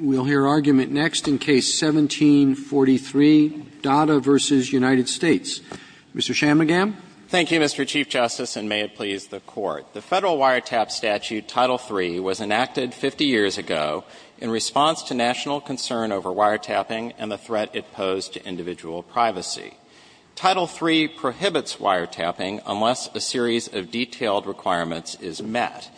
We'll hear argument next in Case 1743, Dada v. United States. Mr. Shammagam. Thank you, Mr. Chief Justice, and may it please the Court. The Federal wiretap statute, Title III, was enacted 50 years ago in response to national concern over wiretapping and the threat it posed to individual privacy. Title III prohibits wiretapping unless a series of detailed requirements is met.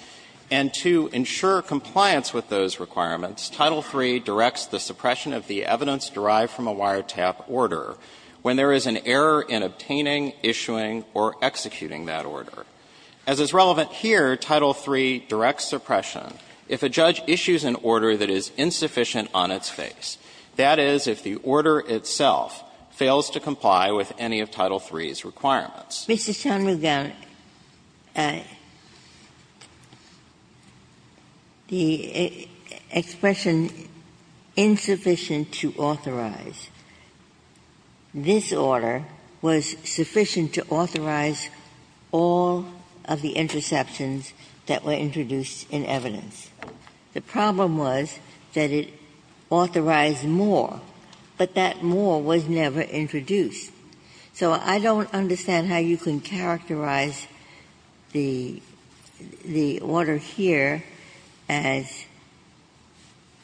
And to ensure compliance with those requirements, Title III directs the suppression of the evidence derived from a wiretap order when there is an error in obtaining, issuing, or executing that order. As is relevant here, Title III directs suppression if a judge issues an order that is insufficient on its face, that is, if the order itself fails to comply with any of Title III's requirements. Ginsburg. Mr. Shammagam, the expression insufficient to authorize, this order was sufficient to authorize all of the interceptions that were introduced in evidence. The problem was that it authorized more, but that more was never introduced. So I don't understand how you can characterize the order here as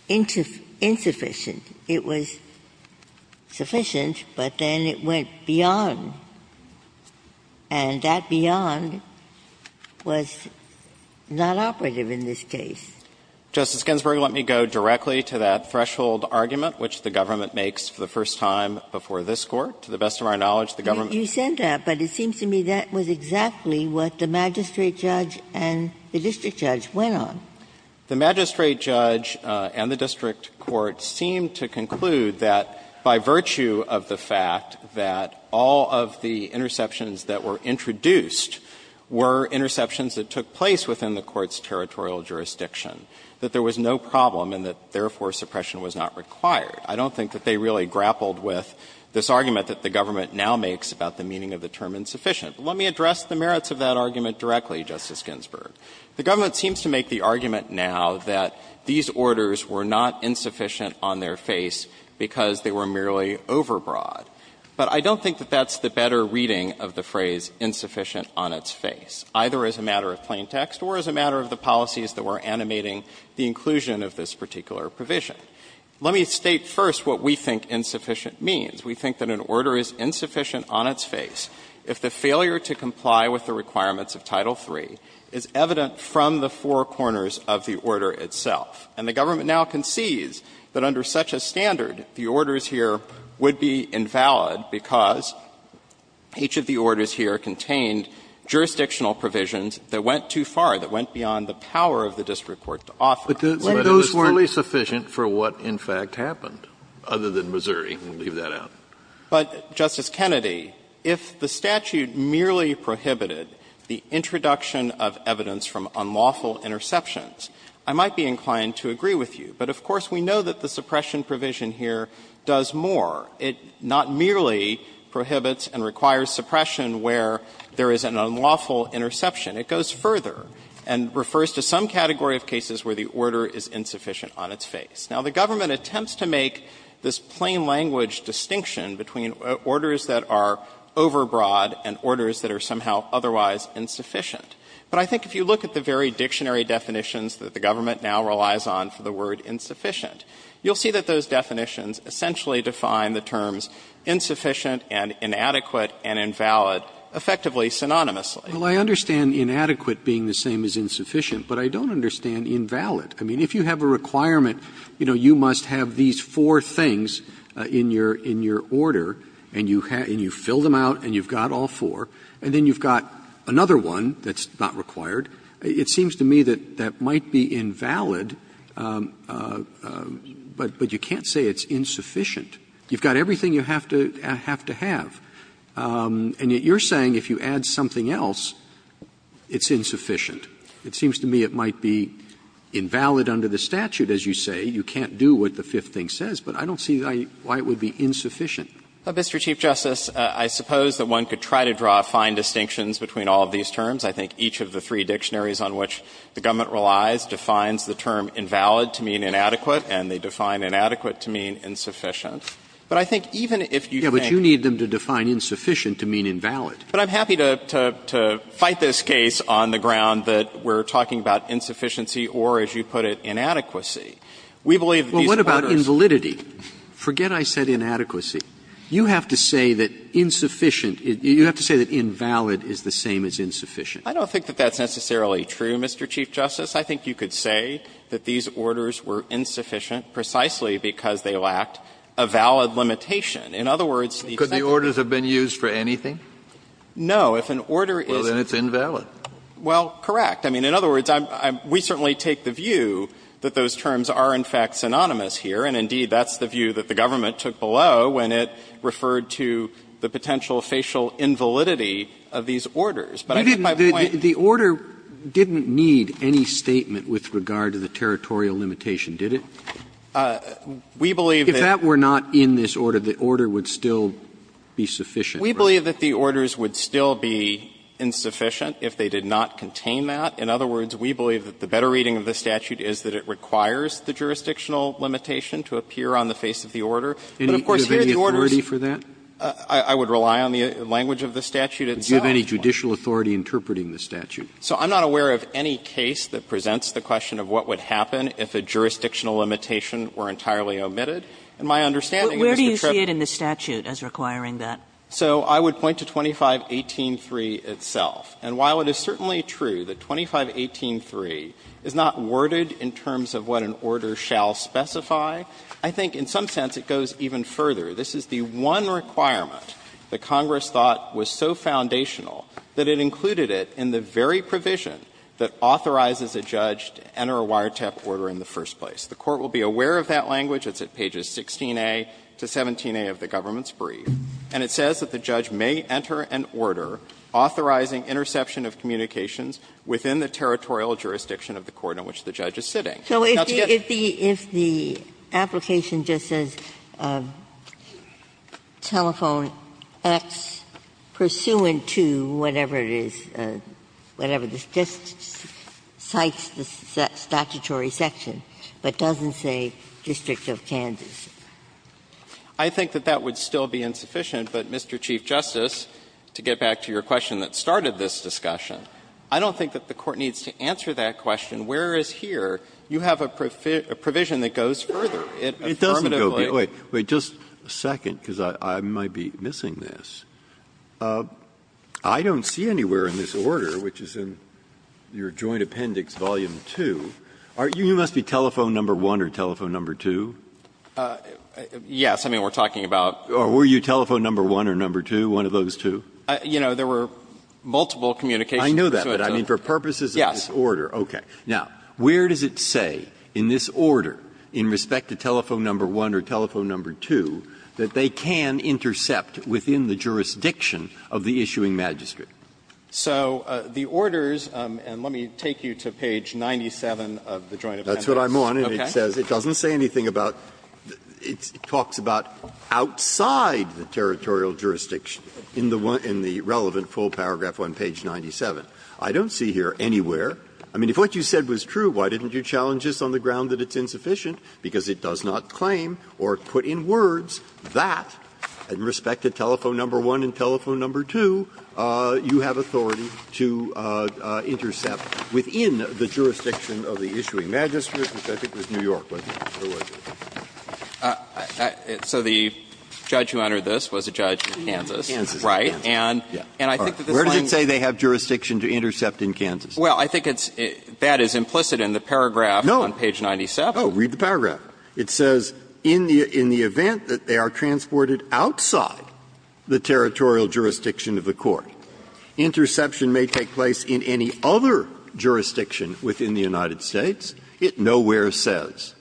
insufficient. It was sufficient, but then it went beyond. And that beyond was not operative in this case. Justice Ginsburg, let me go directly to that threshold argument which the government makes for the first time before this Court. To the best of our knowledge, the government doesn't. Ginsburg. You said that, but it seems to me that was exactly what the magistrate judge and the district judge went on. The magistrate judge and the district court seemed to conclude that by virtue of the fact that all of the interceptions that were introduced were interceptions that took place within the Court's territorial jurisdiction, that there was no problem and that, therefore, suppression was not required. I don't think that they really grappled with this argument that the government now makes about the meaning of the term insufficient. But let me address the merits of that argument directly, Justice Ginsburg. The government seems to make the argument now that these orders were not insufficient on their face because they were merely overbroad. But I don't think that that's the better reading of the phrase insufficient on its face, either as a matter of plain text or as a matter of the policies that were animating the inclusion of this particular provision. Let me state first what we think insufficient means. We think that an order is insufficient on its face if the failure to comply with the requirements of Title III is evident from the four corners of the order itself. And the government now concedes that under such a standard, the orders here would be invalid because each of the orders here contained jurisdictional provisions that went too far, that went beyond the power of the district court to offer. Kennedy, if the statute merely prohibited the introduction of evidence from unlawful interceptions, I might be inclined to agree with you. But, of course, we know that the suppression provision here does more. It not merely prohibits and requires suppression where there is an unlawful interception. It goes further and refers to some category of cases where the order is insufficient on its face. Now, the government attempts to make this plain language distinction between orders that are overbroad and orders that are somehow otherwise insufficient. But I think if you look at the very dictionary definitions that the government now relies on for the word insufficient, you'll see that those definitions essentially define the terms insufficient and inadequate and invalid effectively, synonymously. Roberts Well, I understand inadequate being the same as insufficient, but I don't understand invalid. I mean, if you have a requirement, you know, you must have these four things in your order, and you fill them out and you've got all four, and then you've got another one that's not required. It seems to me that that might be invalid, but you can't say it's insufficient. You've got everything you have to have. And yet you're saying if you add something else, it's insufficient. It seems to me it might be invalid under the statute, as you say. You can't do what the fifth thing says. But I don't see why it would be insufficient. Shanmugam Mr. Chief Justice, I suppose that one could try to draw fine distinctions between all of these terms. I think each of the three dictionaries on which the government relies defines the term invalid to mean inadequate, and they define inadequate to mean insufficient. But I think even if you think the government relies on the term invalid to mean inadequate, you can't define insufficient to mean invalid. Shanmugam But I'm happy to fight this case on the ground that we're talking about insufficiency or, as you put it, inadequacy. We believe that these orders Roberts Well, what about invalidity? Forget I said inadequacy. You have to say that insufficient, you have to say that invalid is the same as insufficient. Shanmugam I don't think that that's necessarily true, Mr. Chief Justice. I think you could say that these orders were insufficient precisely because they lacked a valid limitation. In other words, the Roberts Could the orders have been used for anything? Shanmugam No. If an order is Roberts Well, then it's invalid. Shanmugam Well, correct. I mean, in other words, we certainly take the view that those terms are, in fact, synonymous here, and indeed, that's the view that the government took below when it referred to the potential facial invalidity of these orders. But I think my point Roberts The order didn't need any statement with regard to the territorial limitation, did it? Shanmugam We believe that Roberts If that were not in this order, the order would still be sufficient, right? Shanmugam We believe that the orders would still be insufficient if they did not contain that. In other words, we believe that the better reading of the statute is that it requires the jurisdictional limitation to appear on the face of the order. But, of course, here the order is Roberts Do you have any authority for that? Shanmugam I would rely on the language of the statute itself. Roberts Do you have any judicial authority interpreting the statute? Shanmugam So I'm not aware of any case that presents the question of what would happen if a jurisdictional limitation were entirely omitted. And my understanding is that the trip Kagan Where do you see it in the statute as requiring that? Shanmugam So I would point to 2518.3 itself. And while it is certainly true that 2518.3 is not worded in terms of what an order shall specify, I think in some sense it goes even further. This is the one requirement that Congress thought was so foundational that it included it in the very provision that authorizes a judge to enter a wiretap order in the first place. The Court will be aware of that language. It's at pages 16a to 17a of the government's brief. And it says that the judge may enter an order authorizing interception of communications within the territorial jurisdiction of the court in which the judge is sitting. Ginsburg So if the application just says telephone X pursuant to whatever it is, whatever it is, just cites the statutory section, but doesn't say district of Kansas. Shanmugam I think that that would still be insufficient. But, Mr. Chief Justice, to get back to your question that started this discussion, I don't think that the Court needs to answer that question, where is here. You have a provision that goes further. It affirmatively Breyer Wait. Wait just a second, because I might be missing this. I don't see anywhere in this order, which is in your joint appendix, volume 2, you must be telephone number 1 or telephone number 2? Shanmugam Yes. I mean, we're talking about Breyer Or were you telephone number 1 or number 2, one of those two? Shanmugam You know, there were multiple communications pursuant to I know that, but I mean, for purposes of this order. Shanmugam Yes. Breyer Okay. Now, where does it say in this order in respect to telephone number 1 or telephone number 2 that they can intercept within the jurisdiction of the issuing magistrate? Shanmugam So the orders, and let me take you to page 97 of the joint appendix. Breyer That's what I'm on, and it says it doesn't say anything about, it talks about outside the territorial jurisdiction in the relevant full paragraph on page 97. I don't see here anywhere, I mean, if what you said was true, why didn't you challenge us on the ground that it's insufficient, because it does not claim or put in words that, in respect to telephone number 1 and telephone number 2, you have authority to intercept within the jurisdiction of the issuing magistrate, which I think was New York, wasn't it, or was it? Shanmugam So the judge who entered this was a judge in Kansas, right? And I think that this line Where does it say they have jurisdiction to intercept in Kansas? Shanmugam Well, I think it's that is implicit in the paragraph Breyer No. Shanmugam on page 97. Breyer Oh, read the paragraph. It says in the event that they are transported outside the territorial jurisdiction of the court, interception may take place in any other jurisdiction within the United States. It nowhere says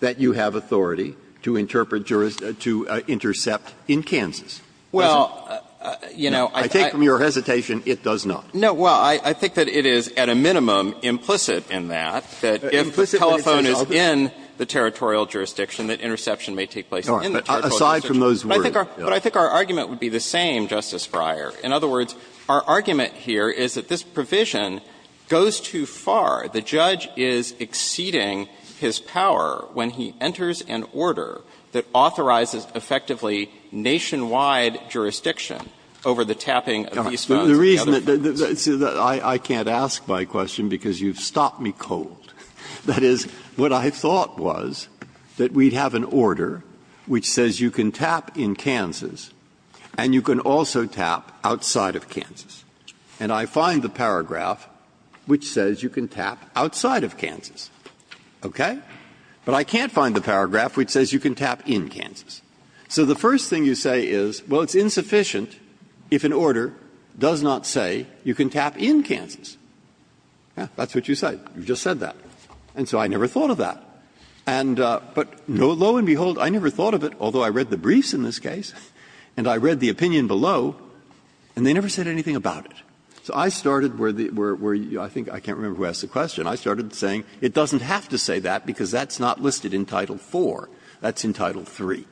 that you have authority to interpret, to intercept in Kansas. Shanmugam Well, you know, I think Breyer I take from your hesitation, it does not. Shanmugam No, well, I think that it is, at a minimum, implicit in that, that if the telephone is in the territorial jurisdiction, that interception may take place in the territorial jurisdiction. Breyer But aside from those words, yes. Shanmugam But I think our argument would be the same, Justice Breyer. In other words, our argument here is that this provision goes too far. The judge is exceeding his power when he enters an order that authorizes effectively nationwide jurisdiction over the tapping of these phones. Breyer The reason that I can't ask my question, because you've stopped me cold, that is, what I thought was that we'd have an order which says you can tap in Kansas and you can also tap outside of Kansas. And I find the paragraph which says you can tap outside of Kansas, okay? But I can't find the paragraph which says you can tap in Kansas. So the first thing you say is, well, it's insufficient if an order does not say you can tap in Kansas. That's what you say. You just said that. And so I never thought of that. And but lo and behold, I never thought of it, although I read the briefs in this case and I read the opinion below, and they never said anything about it. So I started where the – where I think I can't remember who asked the question. I started saying it doesn't have to say that because that's not listed in Title IV. That's in Title III.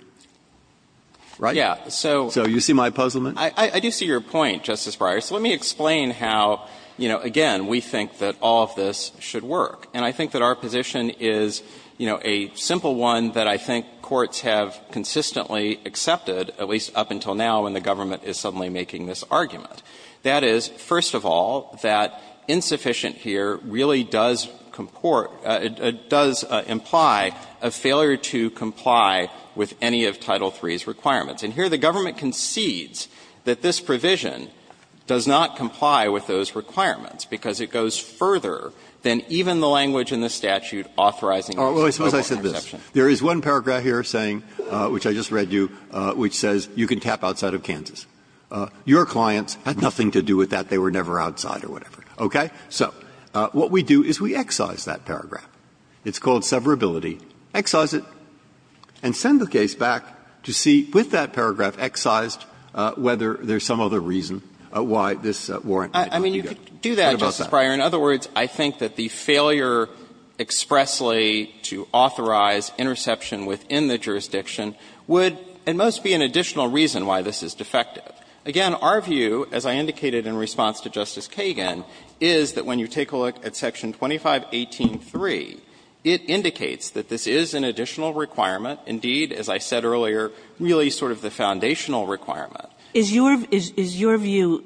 Right? So you see my puzzlement? I do see your point, Justice Breyer. So let me explain how, you know, again, we think that all of this should work. And I think that our position is, you know, a simple one that I think courts have consistently accepted, at least up until now, when the government is suddenly making this argument. That is, first of all, that insufficient here really does comport – it does imply a failure to comply with any of Title III's requirements. And here the government concedes that this provision does not comply with those requirements because it goes further than even the language in the statute authorizing this. Breyer. Well, suppose I said this. There is one paragraph here saying, which I just read you, which says you can tap outside of Kansas. Your clients had nothing to do with that. Okay? So what we do is we excise that paragraph. It's called severability. Excise it and send the case back to see, with that paragraph excised, whether there is some other reason why this warrant might not be good. What about that? I mean, you could do that, Justice Breyer. In other words, I think that the failure expressly to authorize interception within the jurisdiction would, at most, be an additional reason why this is defective. Again, our view, as I indicated in response to Justice Kagan, is that when you take a look at Section 2518.3, it indicates that this is an additional requirement, indeed, as I said earlier, really sort of the foundational requirement. Is your view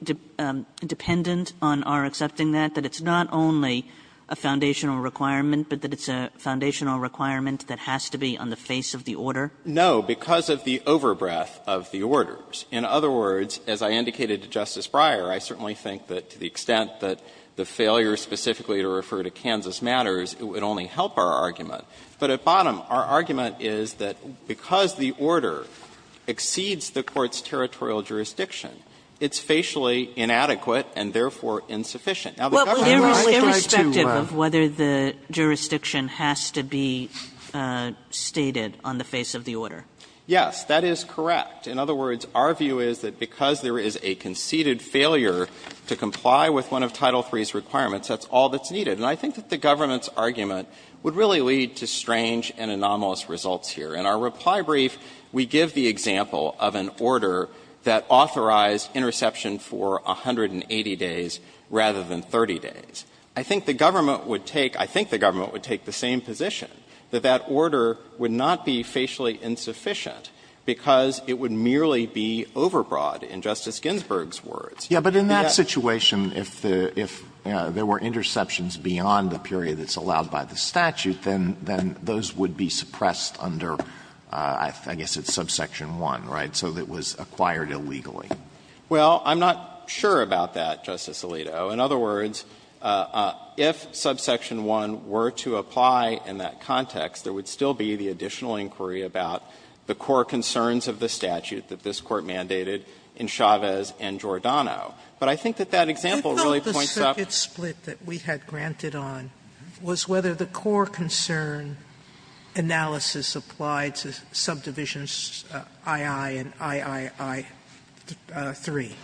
dependent on our accepting that, that it's not only a foundational requirement, but that it's a foundational requirement that has to be on the face of the order? No, because of the over-breath of the orders. In other words, as I indicated to Justice Breyer, I certainly think that to the extent that the failure specifically to refer to Kansas matters, it would only help our argument. But at bottom, our argument is that because the order exceeds the Court's territorial jurisdiction, it's facially inadequate and therefore insufficient. Now, the government has a right to do what they want to do. Kagan, irrespective of whether the jurisdiction has to be stated on the face of the order. Yes, that is correct. In other words, our view is that because there is a conceded failure to comply with one of Title III's requirements, that's all that's needed. And I think that the government's argument would really lead to strange and anomalous results here. In our reply brief, we give the example of an order that authorized interception for 180 days rather than 30 days. I think the government would take the same position, that that order would not be facially insufficient because it would merely be overbroad, in Justice Ginsburg's words. Alito, in other words, if subsection 1 were to apply in that context, there would still be the additional inquiry about the core concerns of the statute that this Court mandated in Chavez and Giordano. But I think that that example really points out. Sotomayor, you thought the circuit split that we had granted on was whether the core concern analysis applied to subdivisions II and III-III.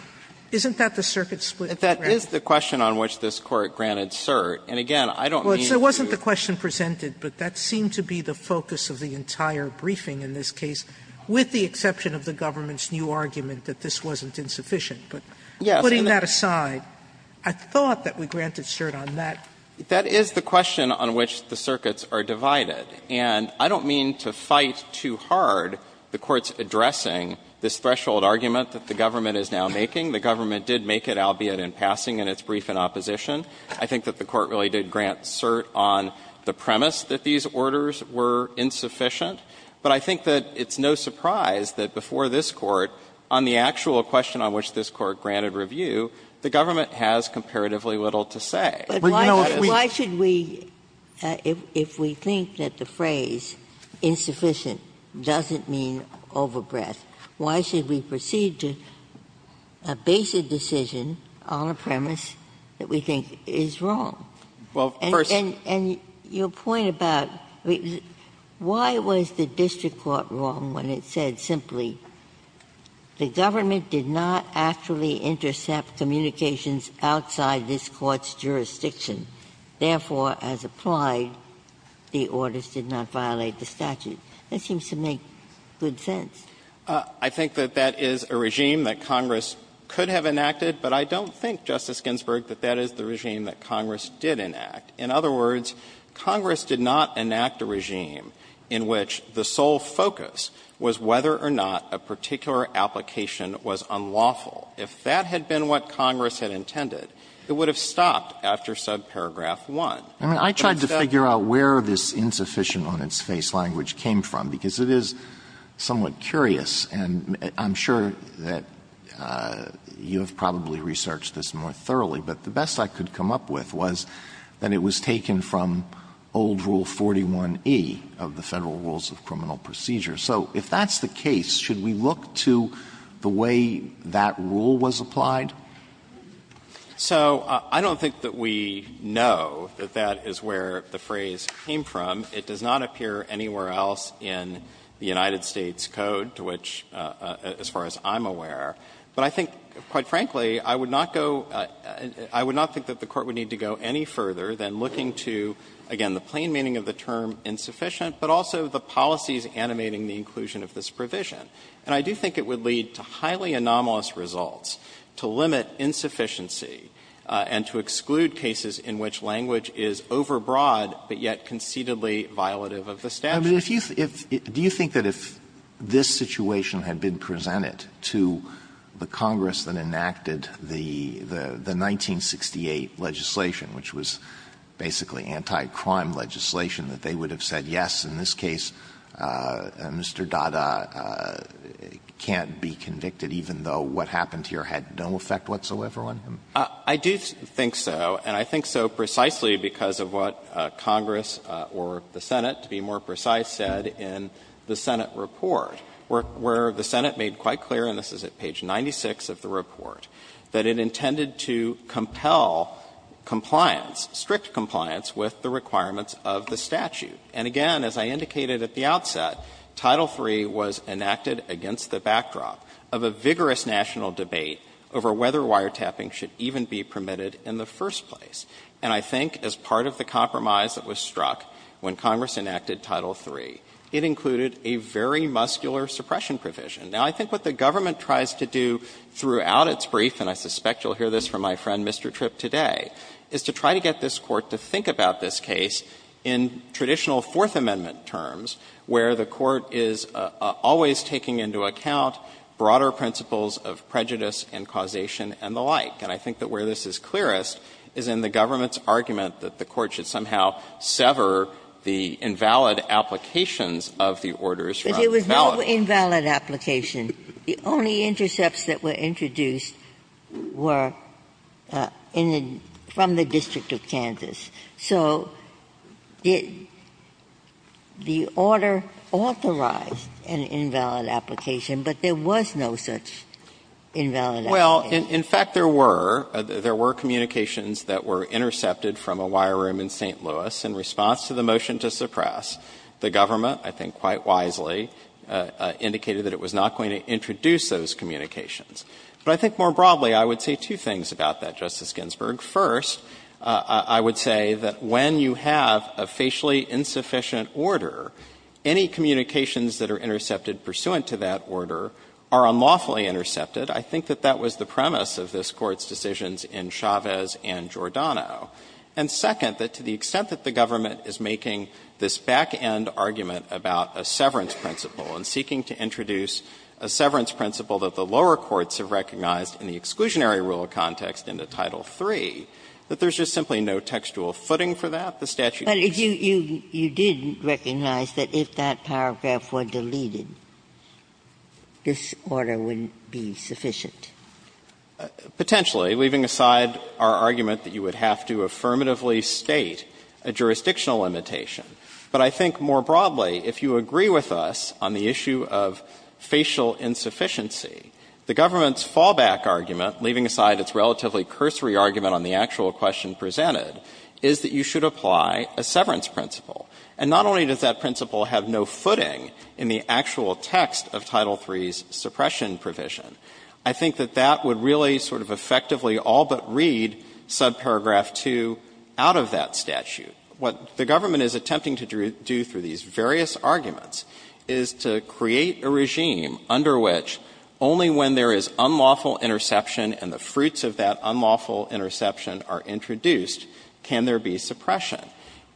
Isn't that the circuit split granted? That is the question on which this Court granted cert. And again, I don't mean to. Well, it wasn't the question presented, but that seemed to be the focus of the entire briefing in this case, with the exception of the government's new argument that this wasn't insufficient. But putting that aside, I thought that we granted cert on that. That is the question on which the circuits are divided. And I don't mean to fight too hard the Court's addressing this threshold argument that the government is now making. The government did make it, albeit in passing, in its brief in opposition. I think that the Court really did grant cert on the premise that these orders were insufficient. But I think that it's no surprise that before this Court, on the actual question on which this Court granted review, the government has comparatively little to say. But, you know, if we don't have sufficient, why should we, if we think that the phrase insufficient doesn't mean overbreadth, why should we proceed to base a decision on a premise that we think is wrong? And your point about why was the district court wrong when it said simply the government did not actually intercept communications outside this Court's jurisdiction. Therefore, as applied, the orders did not violate the statute. That seems to make good sense. I think that that is a regime that Congress could have enacted, but I don't think, Justice Ginsburg, that that is the regime that Congress did enact. In other words, Congress did not enact a regime in which the sole focus was whether or not a particular application was unlawful. If that had been what Congress had intended, it would have stopped after subparagraph But it's not the case. Alitoson I mean, I tried to figure out where this insufficient-on-its-face language came from, because it is somewhat curious, and I'm sure that you have probably researched this more thoroughly, but the best I could come up with was that it was taken from old Rule 41e of the Federal Rules of Criminal Procedure. So if that's the case, should we look to the way that rule was applied? So I don't think that we know that that is where the phrase came from. It does not appear anywhere else in the United States Code, to which, as far as I'm aware. But I think, quite frankly, I would not go – I would not think that the Court would need to go any further than looking to, again, the plain meaning of the term insufficient, but also the policies animating the inclusion of this provision. And I do think it would lead to highly anomalous results, to limit insufficiency and to exclude cases in which language is overbroad, but yet concededly violative of the statute. Alitoson I mean, if you – do you think that if this situation had been presented to the Congress that enacted the 1968 legislation, which was basically anti-crime legislation, that they would have said, yes, in this case, Mr. Dada can't be convicted, even though what happened here had no effect whatsoever on him? I do think so, and I think so precisely because of what Congress or the Senate, to be more precise, said in the Senate report, where the Senate made quite clear, and this is at page 96 of the report, that it intended to compel compliance, strict compliance, with the requirements of the statute. And again, as I indicated at the outset, Title III was enacted against the backdrop of a vigorous national debate over whether wiretapping should even be permitted in the first place. And I think as part of the compromise that was struck when Congress enacted Title III, it included a very muscular suppression provision. Now, I think what the government tries to do throughout its brief, and I suspect you'll hear this from my friend Mr. Tripp today, is to try to get this Court to think about this case in traditional Fourth Amendment terms, where the Court is always taking into account broader principles of prejudice and causation and the like. And I think that where this is clearest is in the government's argument that the Court should somehow sever the invalid applications of the orders from the valid. Ginsburg No invalid application. The only intercepts that were introduced were in the – from the District of Kansas. So did the order authorize an invalid application, but there was no such invalid application? Well, in fact, there were. There were communications that were intercepted from a wire room in St. Louis in response to the motion to suppress. The government, I think quite wisely, indicated that it was not going to introduce those communications. But I think more broadly, I would say two things about that, Justice Ginsburg. First, I would say that when you have a facially insufficient order, any communications that are intercepted pursuant to that order are unlawfully intercepted. I think that that was the premise of this Court's decisions in Chavez and Giordano. And second, that to the extent that the government is making this back-end argument about a severance principle and seeking to introduce a severance principle that the lower courts have recognized in the exclusionary rule of context in the Title III, that there's just simply no textual footing for that. The statute is just as simple as that. Ginsburg But you didn't recognize that if that paragraph were deleted, this order wouldn't be sufficient. Potentially, leaving aside our argument that you would have to affirmatively state a jurisdictional limitation. But I think more broadly, if you agree with us on the issue of facial insufficiency, the government's fallback argument, leaving aside its relatively cursory argument on the actual question presented, is that you should apply a severance principle. And not only does that principle have no footing in the actual text of Title III's suppression provision, I think that that would really sort of effectively all but read subparagraph 2 out of that statute. What the government is attempting to do through these various arguments is to create a regime under which only when there is unlawful interception and the fruits of that unlawful interception are introduced can there be suppression.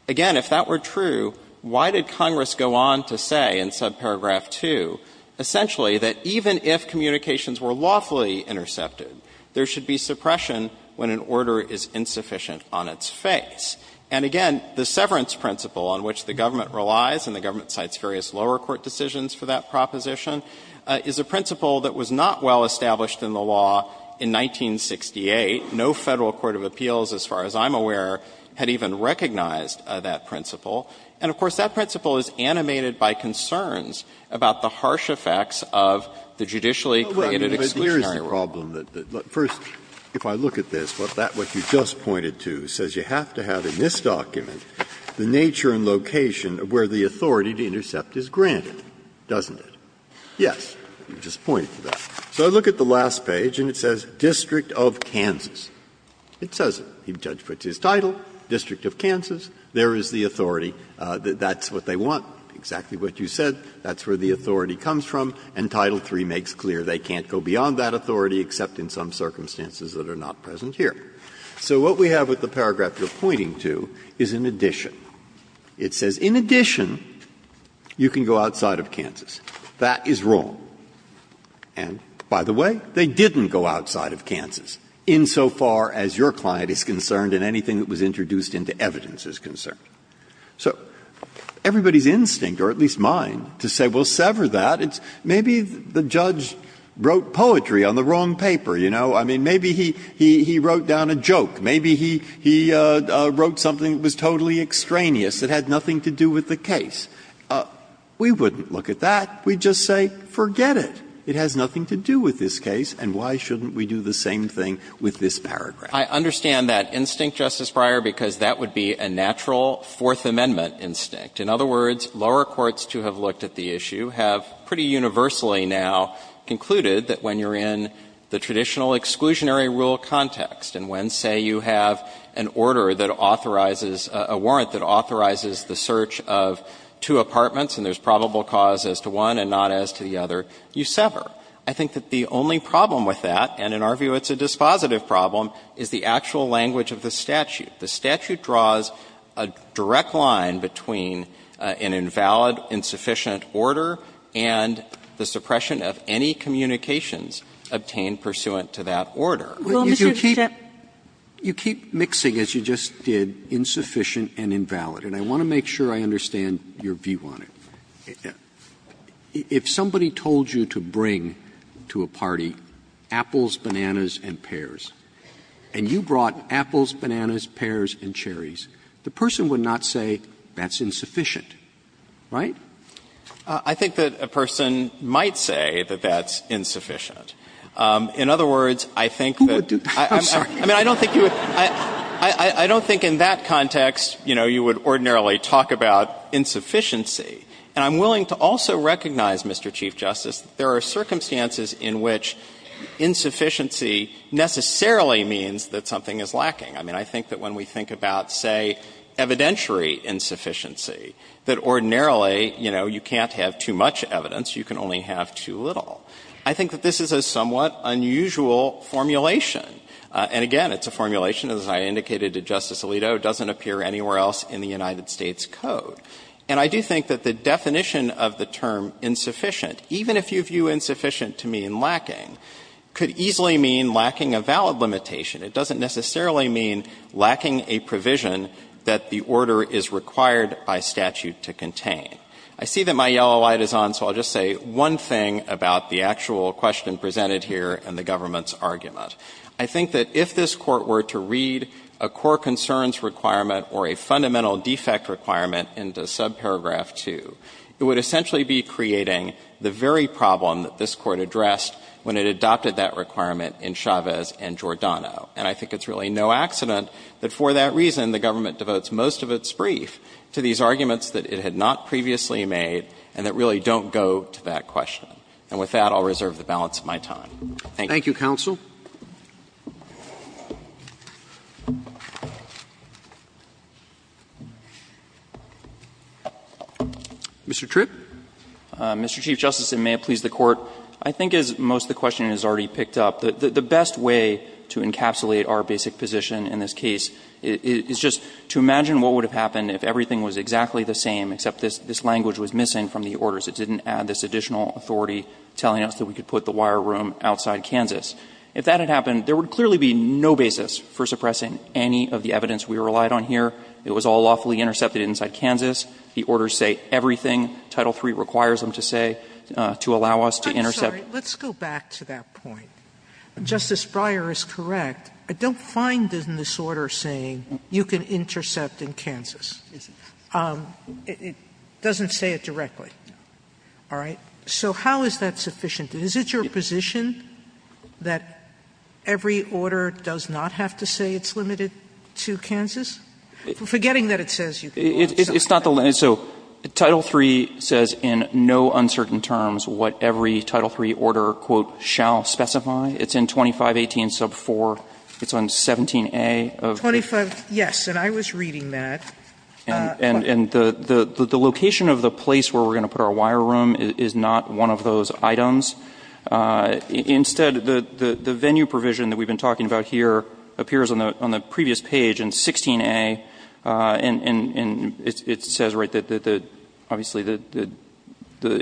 Again, if that were true, why did Congress go on to say in subparagraph 2, essentially, that even if communications were lawfully intercepted, there should be suppression when an order is insufficient on its face? And again, the severance principle on which the government relies, and the government cites various lower court decisions for that proposition, is a principle that was not well established in the law in 1968. No Federal court of appeals, as far as I'm aware, had even recognized that principle. And, of course, that principle is animated by concerns about the harsh effects of the judicially-created exclusionary rule. Breyer, but here's the problem. First, if I look at this, what you just pointed to says you have to have in this document the nature and location of where the authority to intercept is granted, doesn't it? Yes, you just pointed to that. So I look at the last page and it says, District of Kansas. It says it. The judge puts his title, District of Kansas. There is the authority. That's what they want. Exactly what you said. That's where the authority comes from. And Title III makes clear they can't go beyond that authority, except in some circumstances that are not present here. So what we have with the paragraph you're pointing to is an addition. It says, in addition, you can go outside of Kansas. That is wrong. And, by the way, they didn't go outside of Kansas, insofar as your client is concerned and anything that was introduced into evidence is concerned. So everybody's instinct, or at least mine, to say, well, sever that. Maybe the judge wrote poetry on the wrong paper, you know. I mean, maybe he wrote down a joke. Maybe he wrote something that was totally extraneous, that had nothing to do with the case. We wouldn't look at that. We'd just say, forget it. It has nothing to do with this case, and why shouldn't we do the same thing with this paragraph? I understand that instinct, Justice Breyer, because that would be a natural Fourth Amendment instinct. In other words, lower courts, to have looked at the issue, have pretty universally now concluded that when you're in the traditional exclusionary rule context, and when, say, you have an order that authorizes, a warrant that authorizes the search of two apartments and there's probable cause as to one and not as to the other, you sever. I think that the only problem with that, and in our view it's a dispositive problem, is the actual language of the statute. The statute draws a direct line between an invalid, insufficient order and the suppression of any communications obtained pursuant to that order. Sotomayor, you keep mixing, as you just did, insufficient and invalid, and I want to ask you, if somebody told you to bring to a party apples, bananas, and pears, and you brought apples, bananas, pears, and cherries, the person would not say, that's insufficient, right? I think that a person might say that that's insufficient. In other words, I think that I don't think you would, I don't think in that context, you know, you would ordinarily talk about insufficiency. And I'm willing to also recognize, Mr. Chief Justice, that there are circumstances in which insufficiency necessarily means that something is lacking. I mean, I think that when we think about, say, evidentiary insufficiency, that ordinarily, you know, you can't have too much evidence, you can only have too little. I think that this is a somewhat unusual formulation. And again, it's a formulation, as I indicated to Justice Alito, doesn't appear anywhere else in the United States Code. And I do think that the definition of the term insufficient, even if you view insufficient to mean lacking, could easily mean lacking a valid limitation. It doesn't necessarily mean lacking a provision that the order is required by statute to contain. I see that my yellow light is on, so I'll just say one thing about the actual question presented here and the government's argument. I think that if this Court were to read a core concerns requirement or a fundamental defect requirement into subparagraph 2, it would essentially be creating the very problem that this Court addressed when it adopted that requirement in Chavez and Giordano. And I think it's really no accident that for that reason, the government devotes most of its brief to these arguments that it had not previously made and that really don't go to that question. Thank you. Roberts. Thank you, counsel. Mr. Tripp. Mr. Chief Justice, and may it please the Court, I think as most of the question has already picked up, the best way to encapsulate our basic position in this case is just to imagine what would have happened if everything was exactly the same, except this language was missing from the orders. It didn't add this additional authority telling us that we could put the wire room outside Kansas. If that had happened, there would clearly be no basis for suppressing any of the evidence we relied on here. It was all lawfully intercepted inside Kansas. The orders say everything Title III requires them to say to allow us to intercept. Sotomayor, let's go back to that point. Justice Breyer is correct. I don't find in this order saying you can intercept in Kansas. It doesn't say it directly. All right. So how is that sufficient? Is it your position that every order does not have to say it's limited to Kansas? Forgetting that it says you can intercept. It's not the limit. So Title III says in no uncertain terms what every Title III order, quote, shall specify. It's in 2518 sub 4. It's on 17A of the 25. Yes, and I was reading that. And the location of the place where we're going to put our wire room is not one of those items. Instead, the venue provision that we've been talking about here appears on the previous page in 16A, and it says, right, that the, obviously, the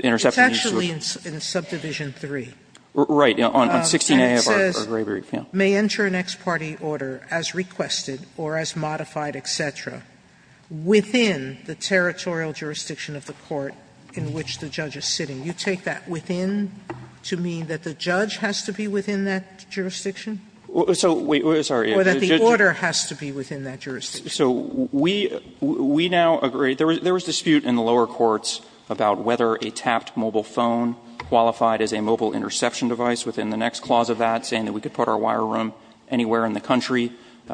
interception. It's actually in subdivision 3. Right, on 16A of our gray brief, yeah. It says, may enter an ex parte order as requested or as modified, et cetera. Within the territorial jurisdiction of the court in which the judge is sitting. You take that within to mean that the judge has to be within that jurisdiction? So, wait, sorry. Or that the order has to be within that jurisdiction. So we now agree. There was dispute in the lower courts about whether a tapped mobile phone qualified as a mobile interception device within the next clause of that, saying that we could put our wire room anywhere in the country.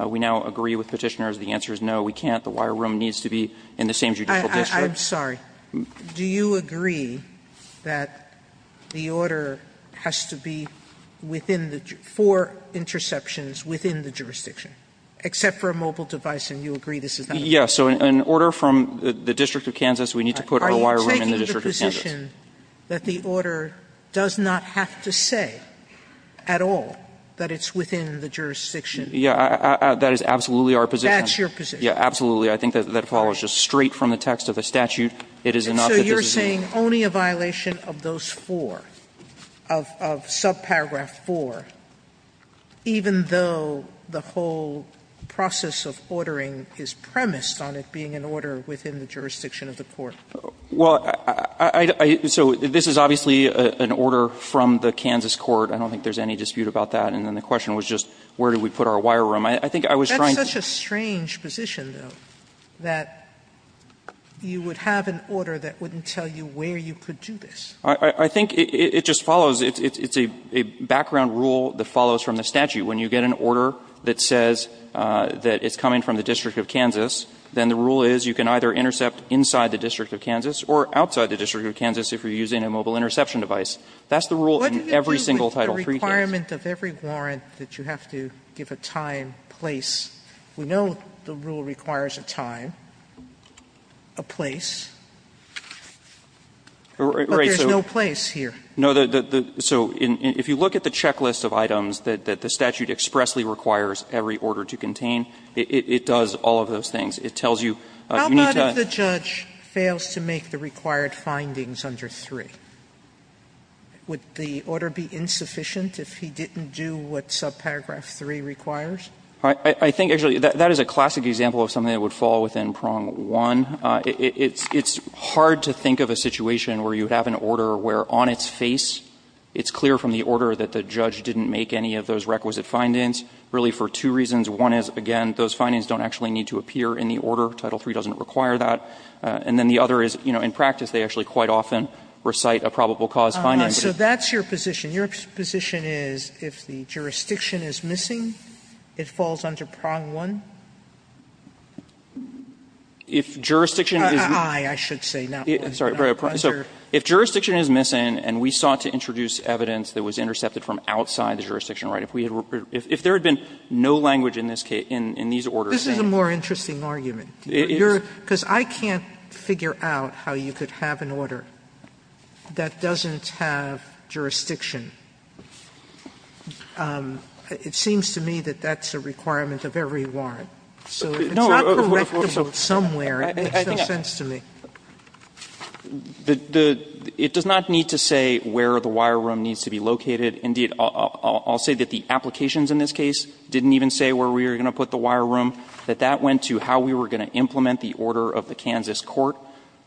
We now agree with Petitioners. The answer is no. We can't. The wire room needs to be in the same judicial district. Sotomayor, I'm sorry. Do you agree that the order has to be within the four interceptions within the jurisdiction, except for a mobile device, and you agree this is not the case? Yeah. So an order from the District of Kansas, we need to put our wire room in the District of Kansas. Are you taking the position that the order does not have to say at all that it's within the jurisdiction? Yeah. That is absolutely our position. That's your position. Yeah, absolutely. I think that follows just straight from the text of the statute. It is enough that this is a law. And so you're saying only a violation of those four, of subparagraph 4, even though the whole process of ordering is premised on it being an order within the jurisdiction of the court? Well, I don't think so. This is obviously an order from the Kansas court. I don't think there's any dispute about that. And then the question was just where do we put our wire room. I think I was trying to say. It's such a strange position, though, that you would have an order that wouldn't tell you where you could do this. I think it just follows. It's a background rule that follows from the statute. When you get an order that says that it's coming from the District of Kansas, then the rule is you can either intercept inside the District of Kansas or outside the District of Kansas if you're using a mobile interception device. That's the rule in every single Title III case. Sotomayor's requirement of every warrant that you have to give a time, place. We know the rule requires a time, a place. But there's no place here. Right. So if you look at the checklist of items that the statute expressly requires every order to contain, it does all of those things. It tells you you need to add. How about if the judge fails to make the required findings under 3? Would the order be insufficient if he didn't do what subparagraph 3 requires? I think, actually, that is a classic example of something that would fall within prong 1. It's hard to think of a situation where you have an order where on its face it's clear from the order that the judge didn't make any of those requisite findings really for two reasons. One is, again, those findings don't actually need to appear in the order. Title III doesn't require that. And then the other is, you know, in practice, they actually quite often recite a probable cause finding. Sotomayor So that's your position. Your position is if the jurisdiction is missing, it falls under prong 1? If jurisdiction is missing. Sotomayor Aye. I should say not 1. Sorry. So if jurisdiction is missing and we sought to introduce evidence that was intercepted from outside the jurisdiction, right, if we had been no language in this case, in these orders. Sotomayor This is a more interesting argument. Because I can't figure out how you could have an order that doesn't have jurisdiction. It seems to me that that's a requirement of every warrant. So it's not correctable somewhere. It makes no sense to me. It does not need to say where the wire room needs to be located. Indeed, I'll say that the applications in this case didn't even say where we were going to put the wire room. That that went to how we were going to implement the order of the Kansas court.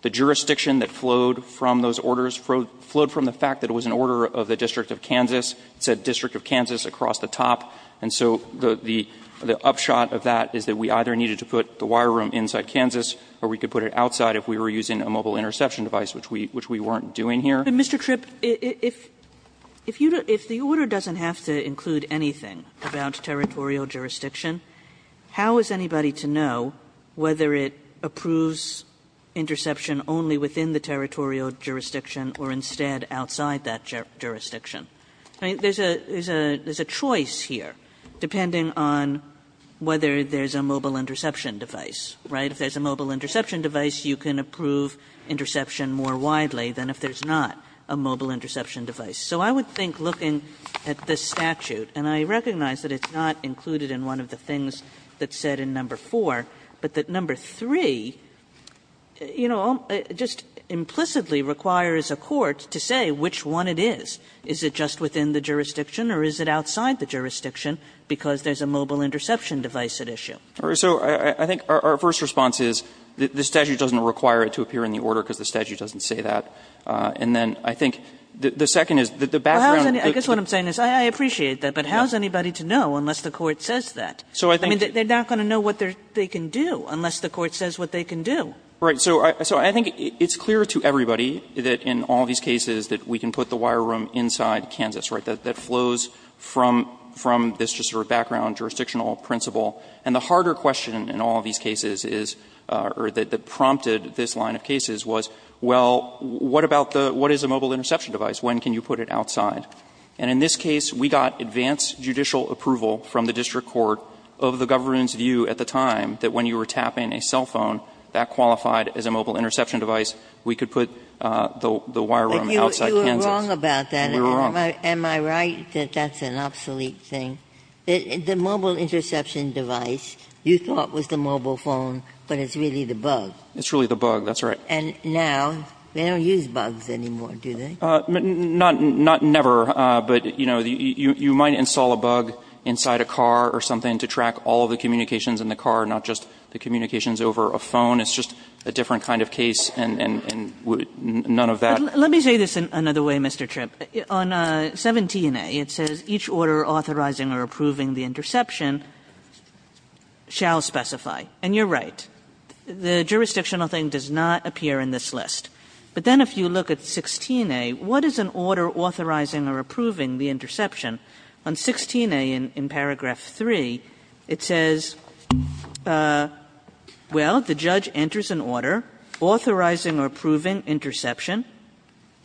The jurisdiction that flowed from those orders flowed from the fact that it was an order of the District of Kansas. It said District of Kansas across the top. And so the upshot of that is that we either needed to put the wire room inside Kansas or we could put it outside if we were using a mobile interception device, which we weren't doing here. Kagan But, Mr. Tripp, if the order doesn't have to include anything about territorial jurisdiction, how is anybody to know whether it approves interception only within the territorial jurisdiction or instead outside that jurisdiction? I mean, there's a choice here, depending on whether there's a mobile interception device, right? If there's a mobile interception device, you can approve interception more widely than if there's not a mobile interception device. So I would think, looking at this statute, and I recognize that it's not included in one of the things that's said in number 4, but that number 3, you know, just implicitly requires a court to say which one it is. Is it just within the jurisdiction or is it outside the jurisdiction because there's a mobile interception device at issue? Tripp So I think our first response is the statute doesn't require it to appear in the order because the statute doesn't say that. And then I think the second is that the background of the case is that there is a mobile Kagan But I guess what I'm saying is I appreciate that, but how is anybody to know unless the court says that? I mean, they're not going to know what they can do unless the court says what they can do. Tripp Right. So I think it's clear to everybody that in all these cases that we can put the wire room inside Kansas, right, that flows from this just sort of background jurisdictional principle. And the harder question in all of these cases is, or that prompted this line of cases, was, well, what about the, what is a mobile interception device? When can you put it outside? And in this case, we got advanced judicial approval from the district court of the government's view at the time that when you were tapping a cell phone, that qualified as a mobile interception device, we could put the wire room outside Kansas. Ginsburg You were wrong about that. Tripp You were wrong. Ginsburg Am I right that that's an obsolete thing? The mobile interception device you thought was the mobile phone, but it's really the bug. Tripp It's really the bug, that's right. Ginsburg And now they don't use bugs anymore, do they? Tripp Not never. But, you know, you might install a bug inside a car or something to track all of the communications in the car, not just the communications over a phone. It's just a different kind of case, and none of that. Kagan Let me say this another way, Mr. Tripp. On 17a, it says each order authorizing or approving the interception shall specify. And you're right. The jurisdictional thing does not appear in this list. But then if you look at 16a, what is an order authorizing or approving the interception? On 16a in paragraph 3, it says, well, the judge enters an order authorizing or approving interception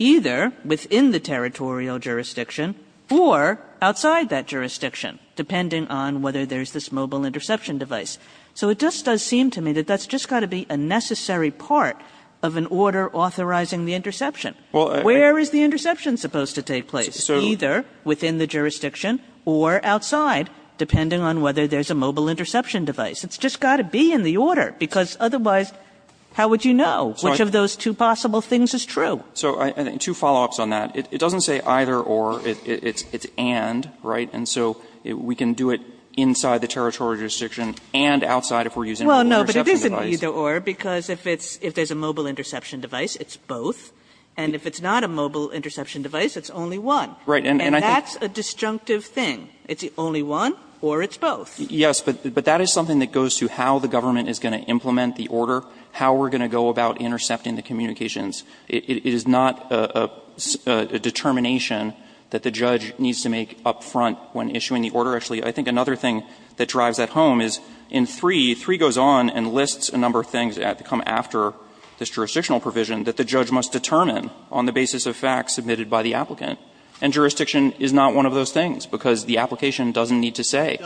either within the territorial jurisdiction or outside that jurisdiction, depending on whether there's this mobile interception device. So it just does seem to me that that's just got to be a necessary part of an order authorizing the interception. Where is the interception supposed to take place? Either within the jurisdiction or outside, depending on whether there's a mobile interception device. It's just got to be in the order, because otherwise how would you know which of those two possible things is true? Tripp So two follow-ups on that. It doesn't say either or. It's and, right? And so we can do it inside the territorial jurisdiction and outside if we're using a mobile interception device. Kagan Well, no, but it isn't either or, because if there's a mobile interception device, it's both. And if it's not a mobile interception device, it's only one. Tripp Right. And I think that's a disjunctive thing. It's only one or it's both. Tripp Yes, but that is something that goes to how the government is going to implement the order, how we're going to go about intercepting the communications. It is not a determination that the judge needs to make up front when issuing the order. Actually, I think another thing that drives that home is in 3, 3 goes on and lists a number of things that have to come after this jurisdictional provision that the judge must determine on the basis of facts submitted by the applicant. And jurisdiction is not one of those things, because the application doesn't need to say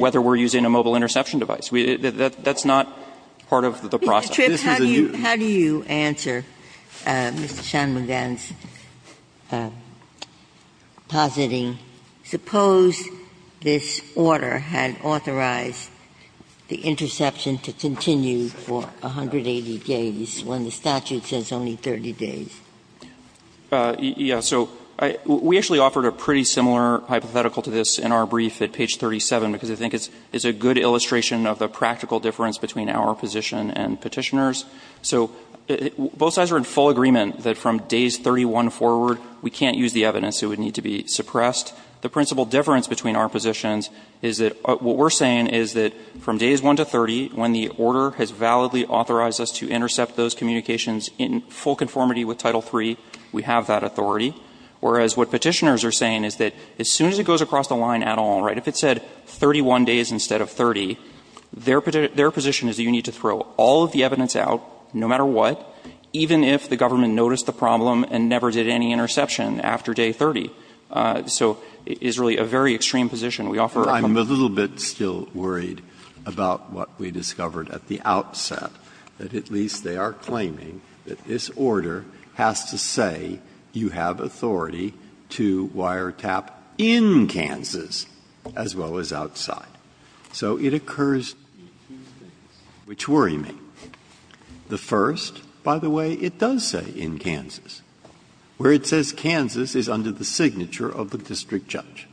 whether we're using a mobile interception device. That's not part of the process. Ginsburg How do you answer Mr. Shanmugam's positing? Suppose this order had authorized the interception to continue for 180 days when the statute says only 30 days? Tripp Yes. So we actually offered a pretty similar hypothetical to this in our brief at page 37, because I think it's a good illustration of the practical difference between our position and Petitioner's. So both sides are in full agreement that from days 31 forward, we can't use the evidence. It would need to be suppressed. The principal difference between our positions is that what we're saying is that from days 1 to 30, when the order has validly authorized us to intercept those communications in full conformity with Title III, we have that authority. Whereas what Petitioner's are saying is that as soon as it goes across the line at 31 days instead of 30, their position is that you need to throw all of the evidence out, no matter what, even if the government noticed the problem and never did any interception after day 30. So it's really a very extreme position. We offer a couple of other examples. Breyer I'm a little bit still worried about what we discovered at the outset, that at least they are claiming that this order has to say you have authority to wiretap in Kansas as well as outside. So it occurs to me that there are two things which worry me. The first, by the way, it does say in Kansas, where it says Kansas is under the signature of the district judge.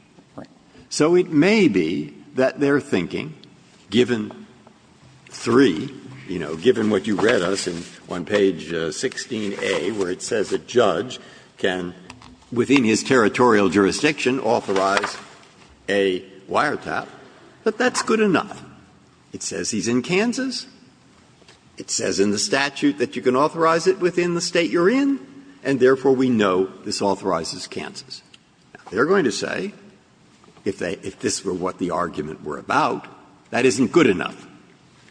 So it may be that they're thinking, given three, you know, given what you read us on page 16a, where it says a judge can, within his territorial jurisdiction, authorize a wiretap, that that's good enough. It says he's in Kansas. It says in the statute that you can authorize it within the State you're in, and therefore we know this authorizes Kansas. They're going to say, if they – if this were what the argument were about, that isn't good enough.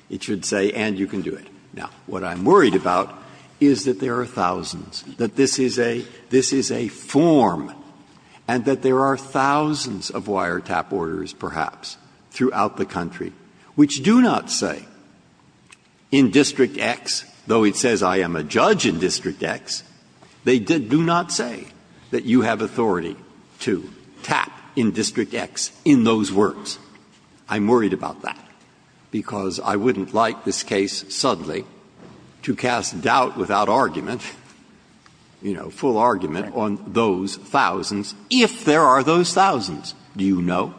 It should say, and you can do it. Now, what I'm worried about is that there are thousands, that this is a – this is a form, and that there are thousands of wiretap orders, perhaps, throughout the country which do not say in District X, though it says I am a judge in District X, they do not say that you have authority to tap in District X in those words. I'm worried about that, because I wouldn't like this case suddenly to cast doubt without argument, you know, full argument on those thousands, if there are those thousands. Do you know?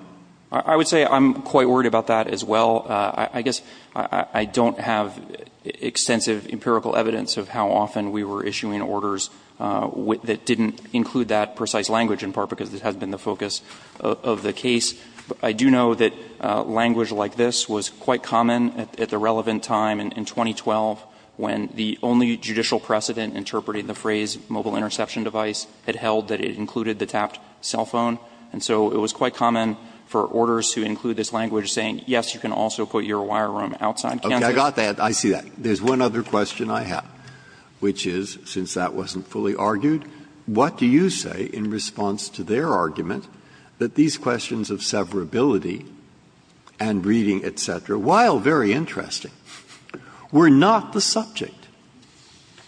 I would say I'm quite worried about that as well. I guess I don't have extensive empirical evidence of how often we were issuing orders that didn't include that precise language, in part because it has been the focus of the case. I do know that language like this was quite common at the relevant time in 2012 when the only judicial precedent interpreting the phrase mobile interception device had held that it included the tapped cell phone. And so it was quite common for orders to include this language saying, yes, you can also put your wire room outside Kansas. Breyer. I got that. I see that. There's one other question I have, which is, since that wasn't fully argued, what do you say in response to their argument that these questions of severability and reading, et cetera, while very interesting, were not the subject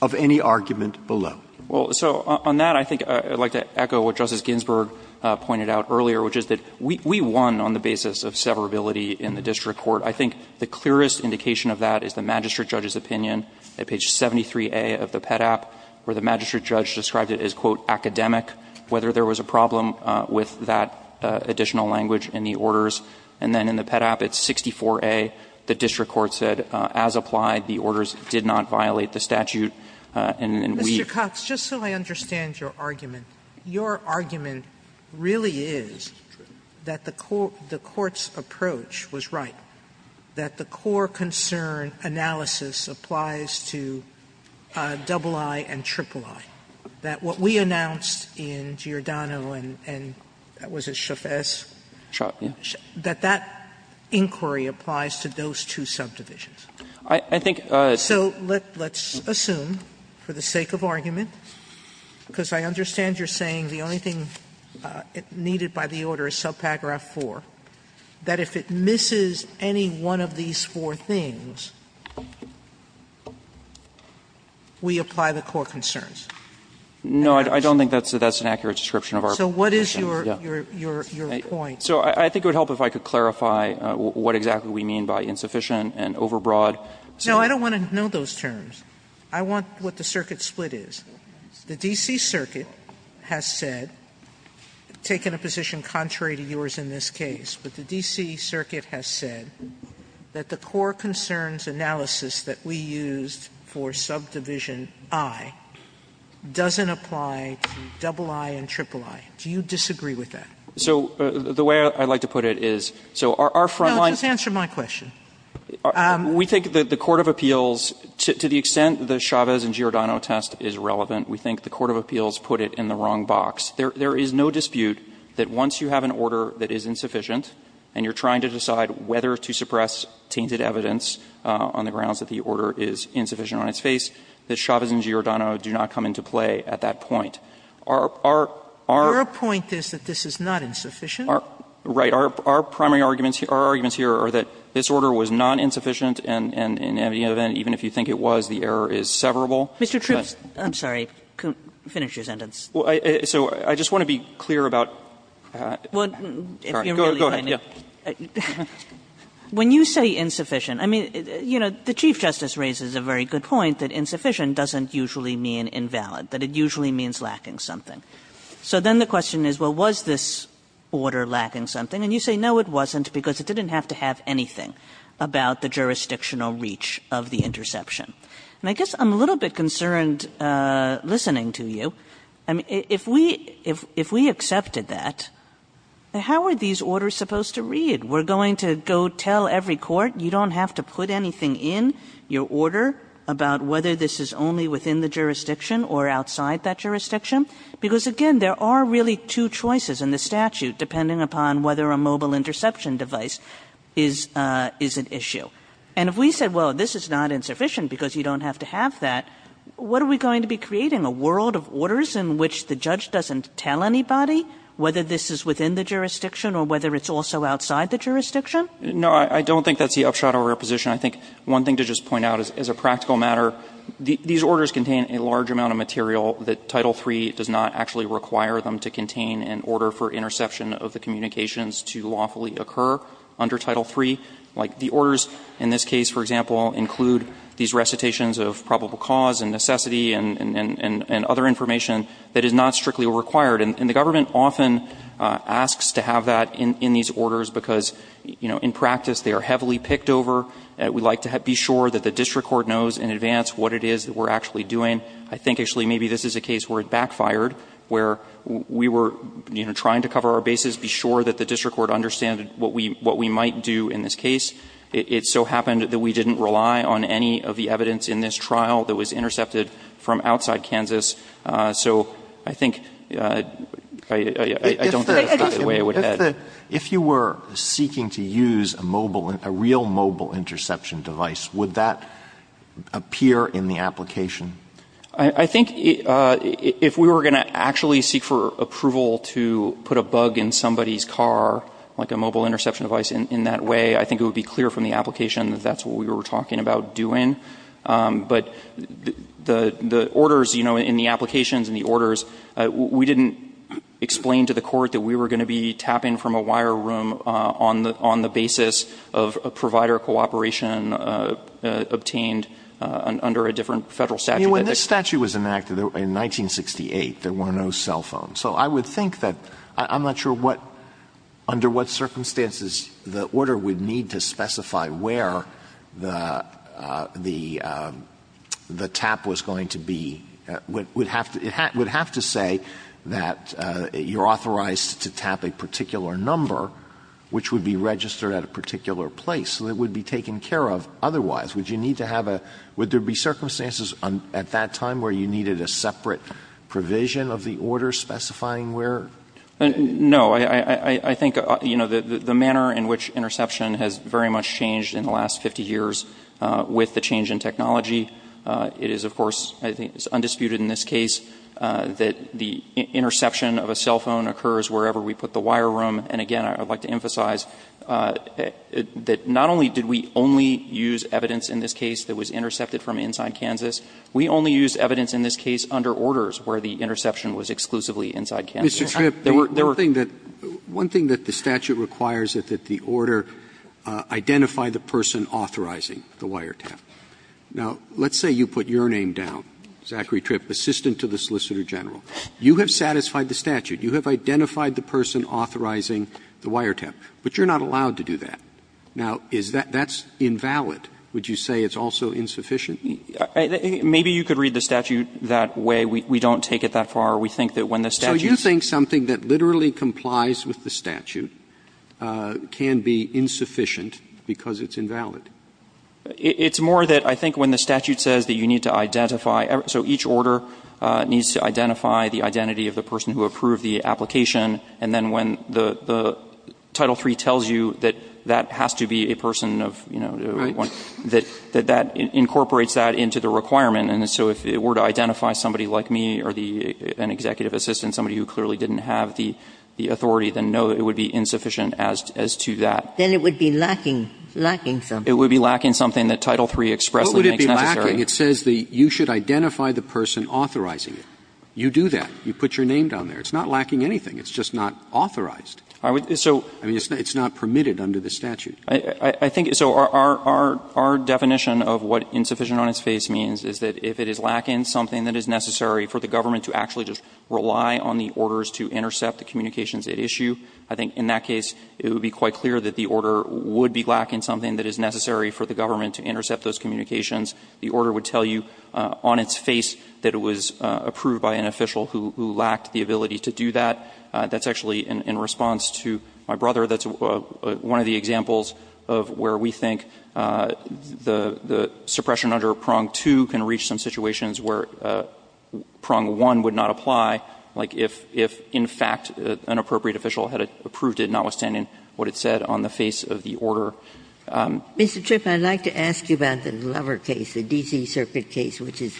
of any argument below? Well, so on that, I think I'd like to echo what Justice Ginsburg pointed out earlier, which is that we won on the basis of severability in the district court. I think the clearest indication of that is the magistrate judge's opinion at page 73a of the PEDAP, where the magistrate judge described it as, quote, academic, whether there was a problem with that additional language in the orders. And then in the PEDAP at 64a, the district court said, as applied, the orders did not violate the statute, and we've. Sotomayor, Mr. Cox, just so I understand your argument, your argument really is that the court's approach was right, that the core concern analysis applies to III and III, that what we announced in Giordano and that was it, Chavez, that that inquiry applies to those two subdivisions. So let's assume, for the sake of argument, because I understand you're saying the order is subpagraph IV, that if it misses any one of these four things, we apply the core concerns. No, I don't think that's an accurate description of our position. So what is your point? So I think it would help if I could clarify what exactly we mean by insufficient and overbroad. No, I don't want to know those terms. I want what the circuit split is. The D.C. Circuit has said, taken a position contrary to yours in this case, but the D.C. Circuit has said that the core concerns analysis that we used for subdivision I doesn't apply to II and III. Do you disagree with that? So the way I'd like to put it is, so our front line is. No, just answer my question. We think that the court of appeals, to the extent the Chavez and Giordano test is relevant, we think the court of appeals put it in the wrong box. There is no dispute that once you have an order that is insufficient and you're trying to decide whether to suppress tainted evidence on the grounds that the order is insufficient on its face, that Chavez and Giordano do not come into play at that point. Our point is that this is not insufficient. Right. Our primary arguments here are that this order was not insufficient, and in any event, even if you think it was, the error is severable. Mr. Troops, I'm sorry. Finish your sentence. So I just want to be clear about. Go ahead. When you say insufficient, I mean, you know, the Chief Justice raises a very good point that insufficient doesn't usually mean invalid, that it usually means lacking something. So then the question is, well, was this order lacking something? And you say, no, it wasn't, because it didn't have to have anything about the jurisdictional reach of the interception. And I guess I'm a little bit concerned listening to you. I mean, if we accepted that, how are these orders supposed to read? We're going to go tell every court, you don't have to put anything in your order about whether this is only within the jurisdiction or outside that jurisdiction? Because, again, there are really two choices in the statute, depending upon whether a mobile interception device is an issue. And if we said, well, this is not insufficient because you don't have to have that, what are we going to be creating, a world of orders in which the judge doesn't tell anybody whether this is within the jurisdiction or whether it's also outside the jurisdiction? No, I don't think that's the upshot of our position. I think one thing to just point out is, as a practical matter, these orders contain a large amount of material that Title III does not actually require them to contain in order for interception of the communications to lawfully occur under Title III. Like, the orders in this case, for example, include these recitations of probable cause and necessity and other information that is not strictly required. And the government often asks to have that in these orders because, you know, in practice they are heavily picked over. We like to be sure that the district court knows in advance what it is that we're actually doing. I think, actually, maybe this is a case where it backfired, where we were, you know, trying to cover our bases, be sure that the district court understood what we might do in this case. It so happened that we didn't rely on any of the evidence in this trial that was intercepted from outside Kansas. So I think I don't think that's the way it would head. Alito, if you were seeking to use a mobile, a real mobile interception device, would that appear in the application? I think if we were going to actually seek for approval to put a bug in somebody's car, like a mobile interception device, in that way, I think it would be clear from the application that that's what we were talking about doing. But the orders, you know, in the applications and the orders, we didn't explain to the court that we were going to be tapping from a wire room on the basis of a wire cooperation obtained under a different federal statute. I mean, when this statute was enacted in 1968, there were no cell phones. So I would think that, I'm not sure what, under what circumstances the order would need to specify where the tap was going to be, would have to say that you're authorized to tap a particular number, which would be registered at a particular place. So it would be taken care of. Otherwise, would you need to have a, would there be circumstances at that time where you needed a separate provision of the order specifying where? No. I think, you know, the manner in which interception has very much changed in the last 50 years with the change in technology, it is, of course, I think it's undisputed in this case that the interception of a cell phone occurs wherever we put the wire room. And again, I would like to emphasize that not only did we only use evidence in this case that was intercepted from inside Kansas, we only used evidence in this case under orders where the interception was exclusively inside Kansas. Roberts. Roberts. One thing that the statute requires is that the order identify the person authorizing the wire tap. Now, let's say you put your name down, Zachary Tripp, assistant to the Solicitor General. You have satisfied the statute. You have identified the person authorizing the wire tap. But you're not allowed to do that. Now, is that, that's invalid. Would you say it's also insufficient? Maybe you could read the statute that way. We don't take it that far. We think that when the statute. So you think something that literally complies with the statute can be insufficient because it's invalid? It's more that I think when the statute says that you need to identify, so each order needs to identify the identity of the person who approved the application. And then when the Title III tells you that that has to be a person of, you know, that that incorporates that into the requirement. And so if it were to identify somebody like me or the, an executive assistant, somebody who clearly didn't have the authority, then no, it would be insufficient as to that. Then it would be lacking, lacking something. It would be lacking something that Title III expressly makes necessary. It says the, you should identify the person authorizing it. You do that. You put your name down there. It's not lacking anything. It's just not authorized. I mean, it's not permitted under the statute. I think, so our definition of what insufficient on its face means is that if it is lacking something that is necessary for the government to actually just rely on the orders to intercept the communications at issue, I think in that case it would be quite clear that the order would be lacking something that is necessary for the government to intercept those communications. The order would tell you on its face that it was approved by an official who lacked the ability to do that. That's actually in response to my brother. That's one of the examples of where we think the suppression under Prong 2 can reach some situations where Prong 1 would not apply, like if in fact an appropriate official had approved it notwithstanding what it said on the face of the order. Ginsburg. Mr. Tripp, I'd like to ask you about the Lover case, the D.C. Circuit case, which is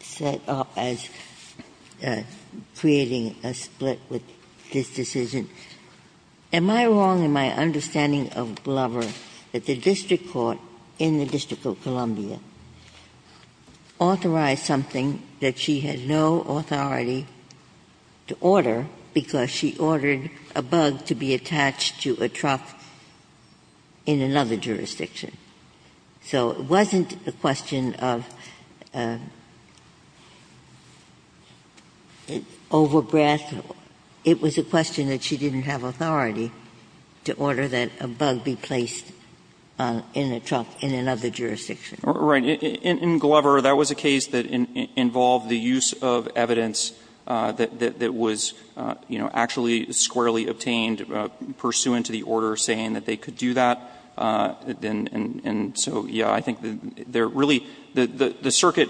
set up as creating a split with this decision. Am I wrong in my understanding of Lover that the district court in the District of Columbia authorized something that she had no authority to order because she ordered a bug to be attached to a trough in another jurisdiction? So it wasn't a question of over-breath. It was a question that she didn't have authority to order that a bug be placed in a trough in another jurisdiction. Right. In Glover, that was a case that involved the use of evidence that was, you know, actually squarely obtained pursuant to the order saying that they could do that. And so, yeah, I think there really the circuit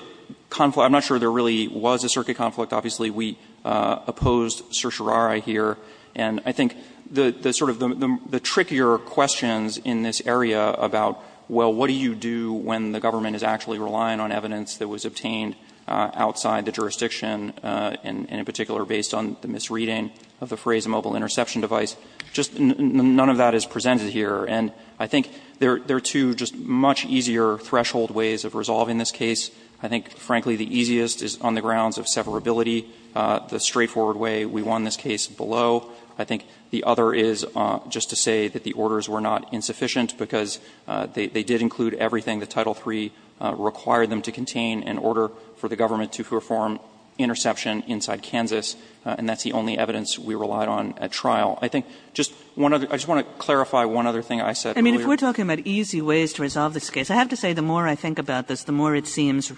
conflict, I'm not sure there really was a circuit conflict. Obviously, we opposed certiorari here. And I think the sort of the trickier questions in this area about, well, what do you do when the government is actually relying on evidence that was obtained outside the jurisdiction, and in particular based on the misreading of the phrase mobile interception device, just none of that is presented here. And I think there are two just much easier threshold ways of resolving this case. I think, frankly, the easiest is on the grounds of severability, the straightforward way we won this case below. I think the other is just to say that the orders were not insufficient because they did include everything that Title III required them to contain in order for the form interception inside Kansas, and that's the only evidence we relied on at trial. I think just one other – I just want to clarify one other thing I said earlier. Kagan I mean, if we're talking about easy ways to resolve this case, I have to say the more I think about this, the more it seems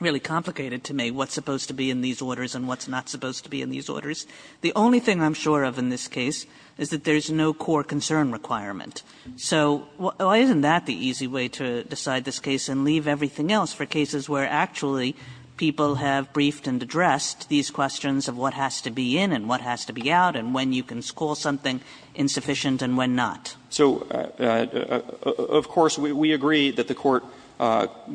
really complicated to me what's supposed to be in these orders and what's not supposed to be in these orders. The only thing I'm sure of in this case is that there's no core concern requirement. So why isn't that the easy way to decide this case and leave everything else for cases where actually people have briefed and addressed these questions of what has to be in and what has to be out and when you can call something insufficient and when not? So, of course, we agree that the Court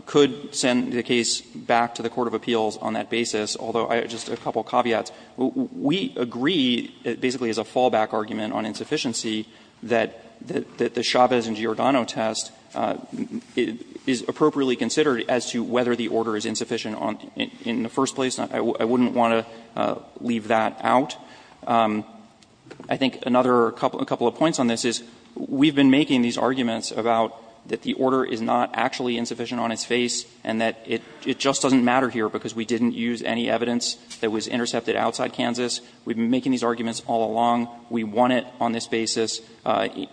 could send the case back to the court of appeals on that basis, although just a couple caveats. We agree basically as a fallback argument on insufficiency that the Chavez and Giordano test is appropriately considered as to whether the order is insufficient in the first place. I wouldn't want to leave that out. I think another couple of points on this is we've been making these arguments about that the order is not actually insufficient on its face and that it just doesn't matter here because we didn't use any evidence that was intercepted outside Kansas. We've been making these arguments all along. We want it on this basis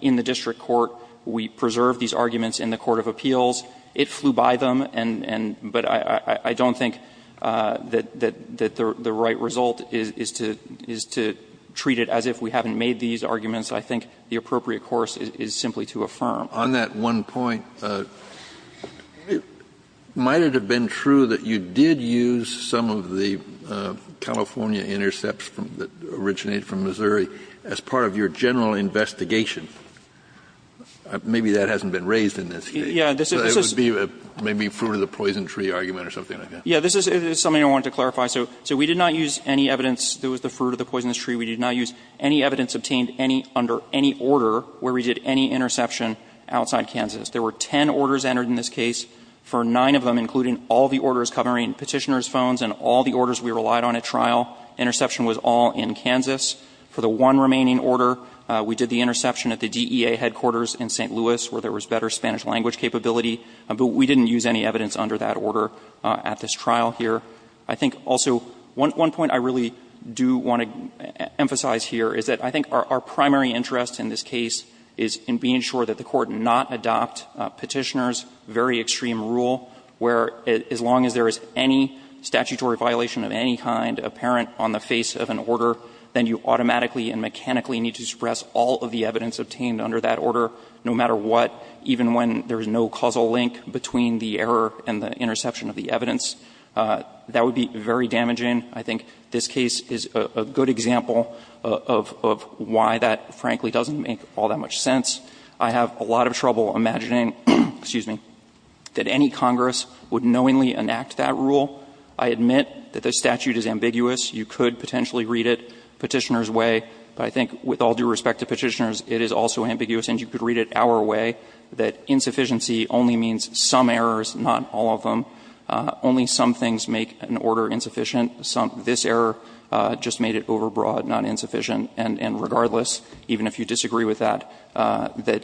in the district court. We preserve these arguments in the court of appeals. It flew by them and but I don't think that the right result is to treat it as if we haven't made these arguments. I think the appropriate course is simply to affirm. Kennedy, on that one point, might it have been true that you did use some of the California intercepts that originated from Missouri as part of your general investigation and maybe that hasn't been raised in this case. It would be maybe fruit of the poison tree argument or something like that. Yeah. This is something I wanted to clarify. So we did not use any evidence that was the fruit of the poisonous tree. We did not use any evidence obtained under any order where we did any interception outside Kansas. There were ten orders entered in this case. For nine of them, including all the orders covering Petitioner's phones and all the orders we relied on at trial, interception was all in Kansas. For the one remaining order, we did the interception at the DEA headquarters in St. Louis where there was better Spanish language capability, but we didn't use any evidence under that order at this trial here. I think also one point I really do want to emphasize here is that I think our primary interest in this case is in being sure that the Court did not adopt Petitioner's very extreme rule where as long as there is any statutory violation of any kind apparent on the face of an order, then you automatically and mechanically need to suppress all of the evidence obtained under that order no matter what, even when there is no causal link between the error and the interception of the evidence. That would be very damaging. I think this case is a good example of why that, frankly, doesn't make all that much sense. I have a lot of trouble imagining, excuse me, that any Congress would knowingly enact that rule. I admit that the statute is ambiguous. You could potentially read it Petitioner's way, but I think with all due respect to Petitioner's, it is also ambiguous. And you could read it our way, that insufficiency only means some errors, not all of them. Only some things make an order insufficient. This error just made it overbroad, not insufficient. And regardless, even if you disagree with that, that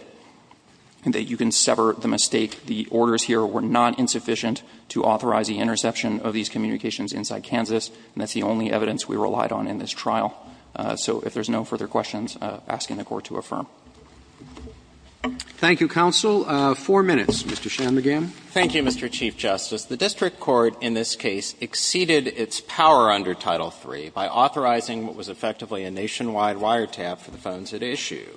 you can sever the mistake the orders here were not insufficient to authorize the interception of these communications inside Kansas. And that's the only evidence we relied on in this trial. So if there's no further questions, asking the Court to affirm. Roberts. Thank you, counsel. Four minutes. Mr. Shanmugam. Thank you, Mr. Chief Justice. The district court in this case exceeded its power under Title III by authorizing what was effectively a nationwide wiretap for the phones at issue.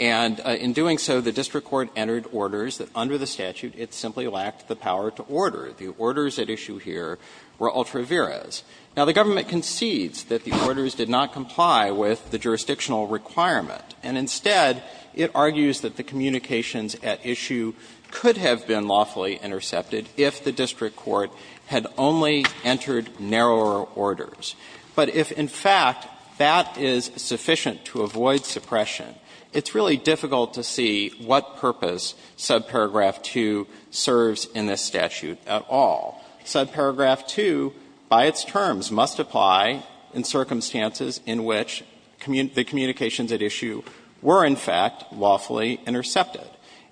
And in doing so, the district court entered orders that under the statute it simply lacked the power to order. The orders at issue here were ultra viras. Now, the government concedes that the orders did not comply with the jurisdictional requirement, and instead, it argues that the communications at issue could have been lawfully intercepted if the district court had only entered narrower orders. But if, in fact, that is sufficient to avoid suppression, it's really difficult to see what purpose subparagraph 2 serves in this statute at all. Subparagraph 2, by its terms, must apply in circumstances in which the communications at issue were, in fact, lawfully intercepted.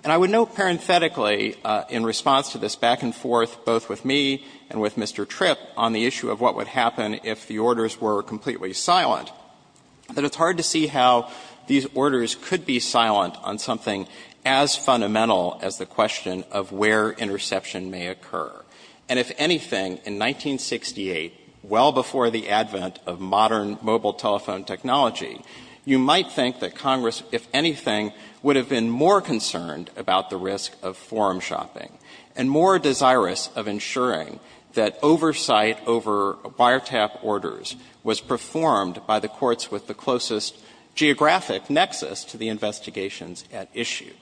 And I would note parenthetically, in response to this back and forth both with me and with Mr. Tripp on the issue of what would happen if the orders were completely silent, that it's hard to see how these orders could be silent on something as fundamental as the question of where interception may occur. And if anything, in 1968, well before the advent of modern mobile telephone technology, you might think that Congress, if anything, would have been more concerned about the risk of forum shopping and more desirous of ensuring that oversight over wiretap orders was performed by the courts with the closest geographic nexus to the investigations at issue.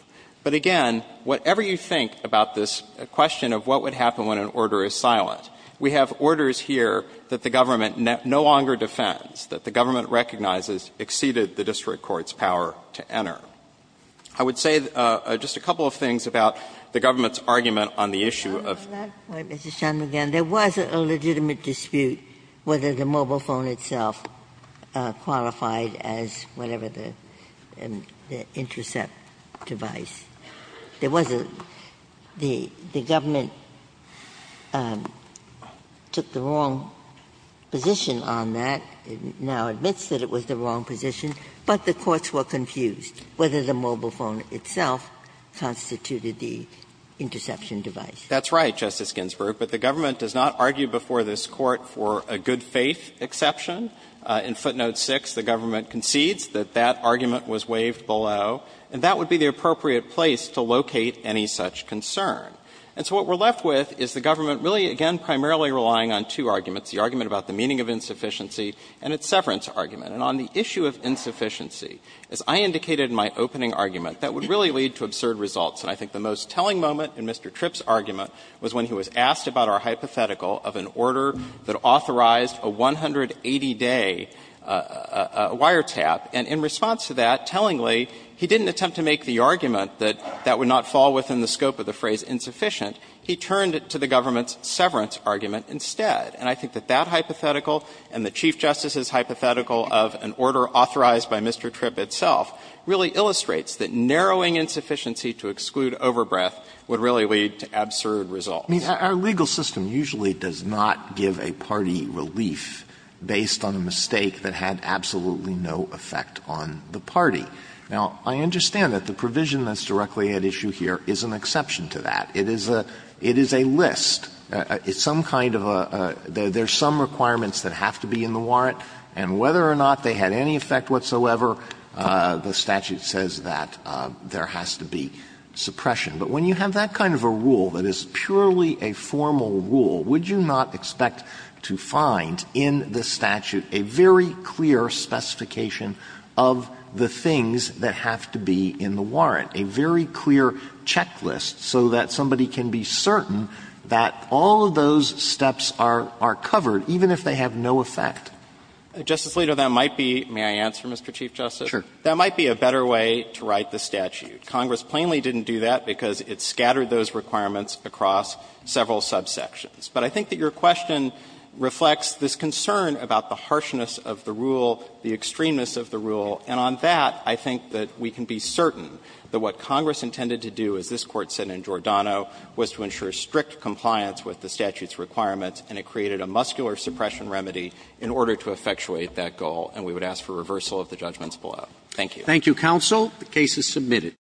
But again, whatever you think about this question of what would happen when the order is silent, we have orders here that the government no longer defends, that the government recognizes exceeded the district court's power to enter. I would say just a couple of things about the government's argument on the issue of the law. Ginsburg. At that point, Mr. Shanmugam, there was a legitimate dispute whether the mobile phone itself qualified as whatever the intercept device. There was a the government took the wrong position on that, now admits that it was the wrong position, but the courts were confused whether the mobile phone itself constituted the interception device. Shanmugam. That's right, Justice Ginsburg, but the government does not argue before this Court for a good-faith exception. In footnote 6, the government concedes that that argument was waived below, and that would be the appropriate place to locate any such concern. And so what we're left with is the government really, again, primarily relying on two arguments, the argument about the meaning of insufficiency and its severance argument. And on the issue of insufficiency, as I indicated in my opening argument, that would really lead to absurd results. And I think the most telling moment in Mr. Tripp's argument was when he was asked about our hypothetical of an order that authorized a 180-day wiretap, and in response to that, tellingly, he didn't attempt to make the argument that that would not fall within the scope of the phrase insufficient. He turned it to the government's severance argument instead. And I think that that hypothetical and the Chief Justice's hypothetical of an order authorized by Mr. Tripp itself really illustrates that narrowing insufficiency to exclude overbreath would really lead to absurd results. Alitoson Our legal system usually does not give a party relief based on a mistake that had absolutely no effect on the party. Now, I understand that the provision that's directly at issue here is an exception to that. It is a list. It's some kind of a – there's some requirements that have to be in the warrant, and whether or not they had any effect whatsoever, the statute says that there has to be suppression. But when you have that kind of a rule that is purely a formal rule, would you not expect to find in the statute a very clear specification of the things that have to be in the warrant, a very clear checklist so that somebody can be certain that all of those steps are covered, even if they have no effect? Shanmugam Justice Alito, that might be – may I answer, Mr. Chief Justice? Shanmugam Sure. Shanmugam That might be a better way to write the statute. Congress plainly didn't do that because it scattered those requirements across several subsections. But I think that your question reflects this concern about the harshness of the rule, the extremeness of the rule. And on that, I think that we can be certain that what Congress intended to do, as this Court said in Giordano, was to ensure strict compliance with the statute's requirements, and it created a muscular suppression remedy in order to effectuate that goal. And we would ask for reversal of the judgments below. Thank you. Roberts. Thank you, counsel. The case is submitted.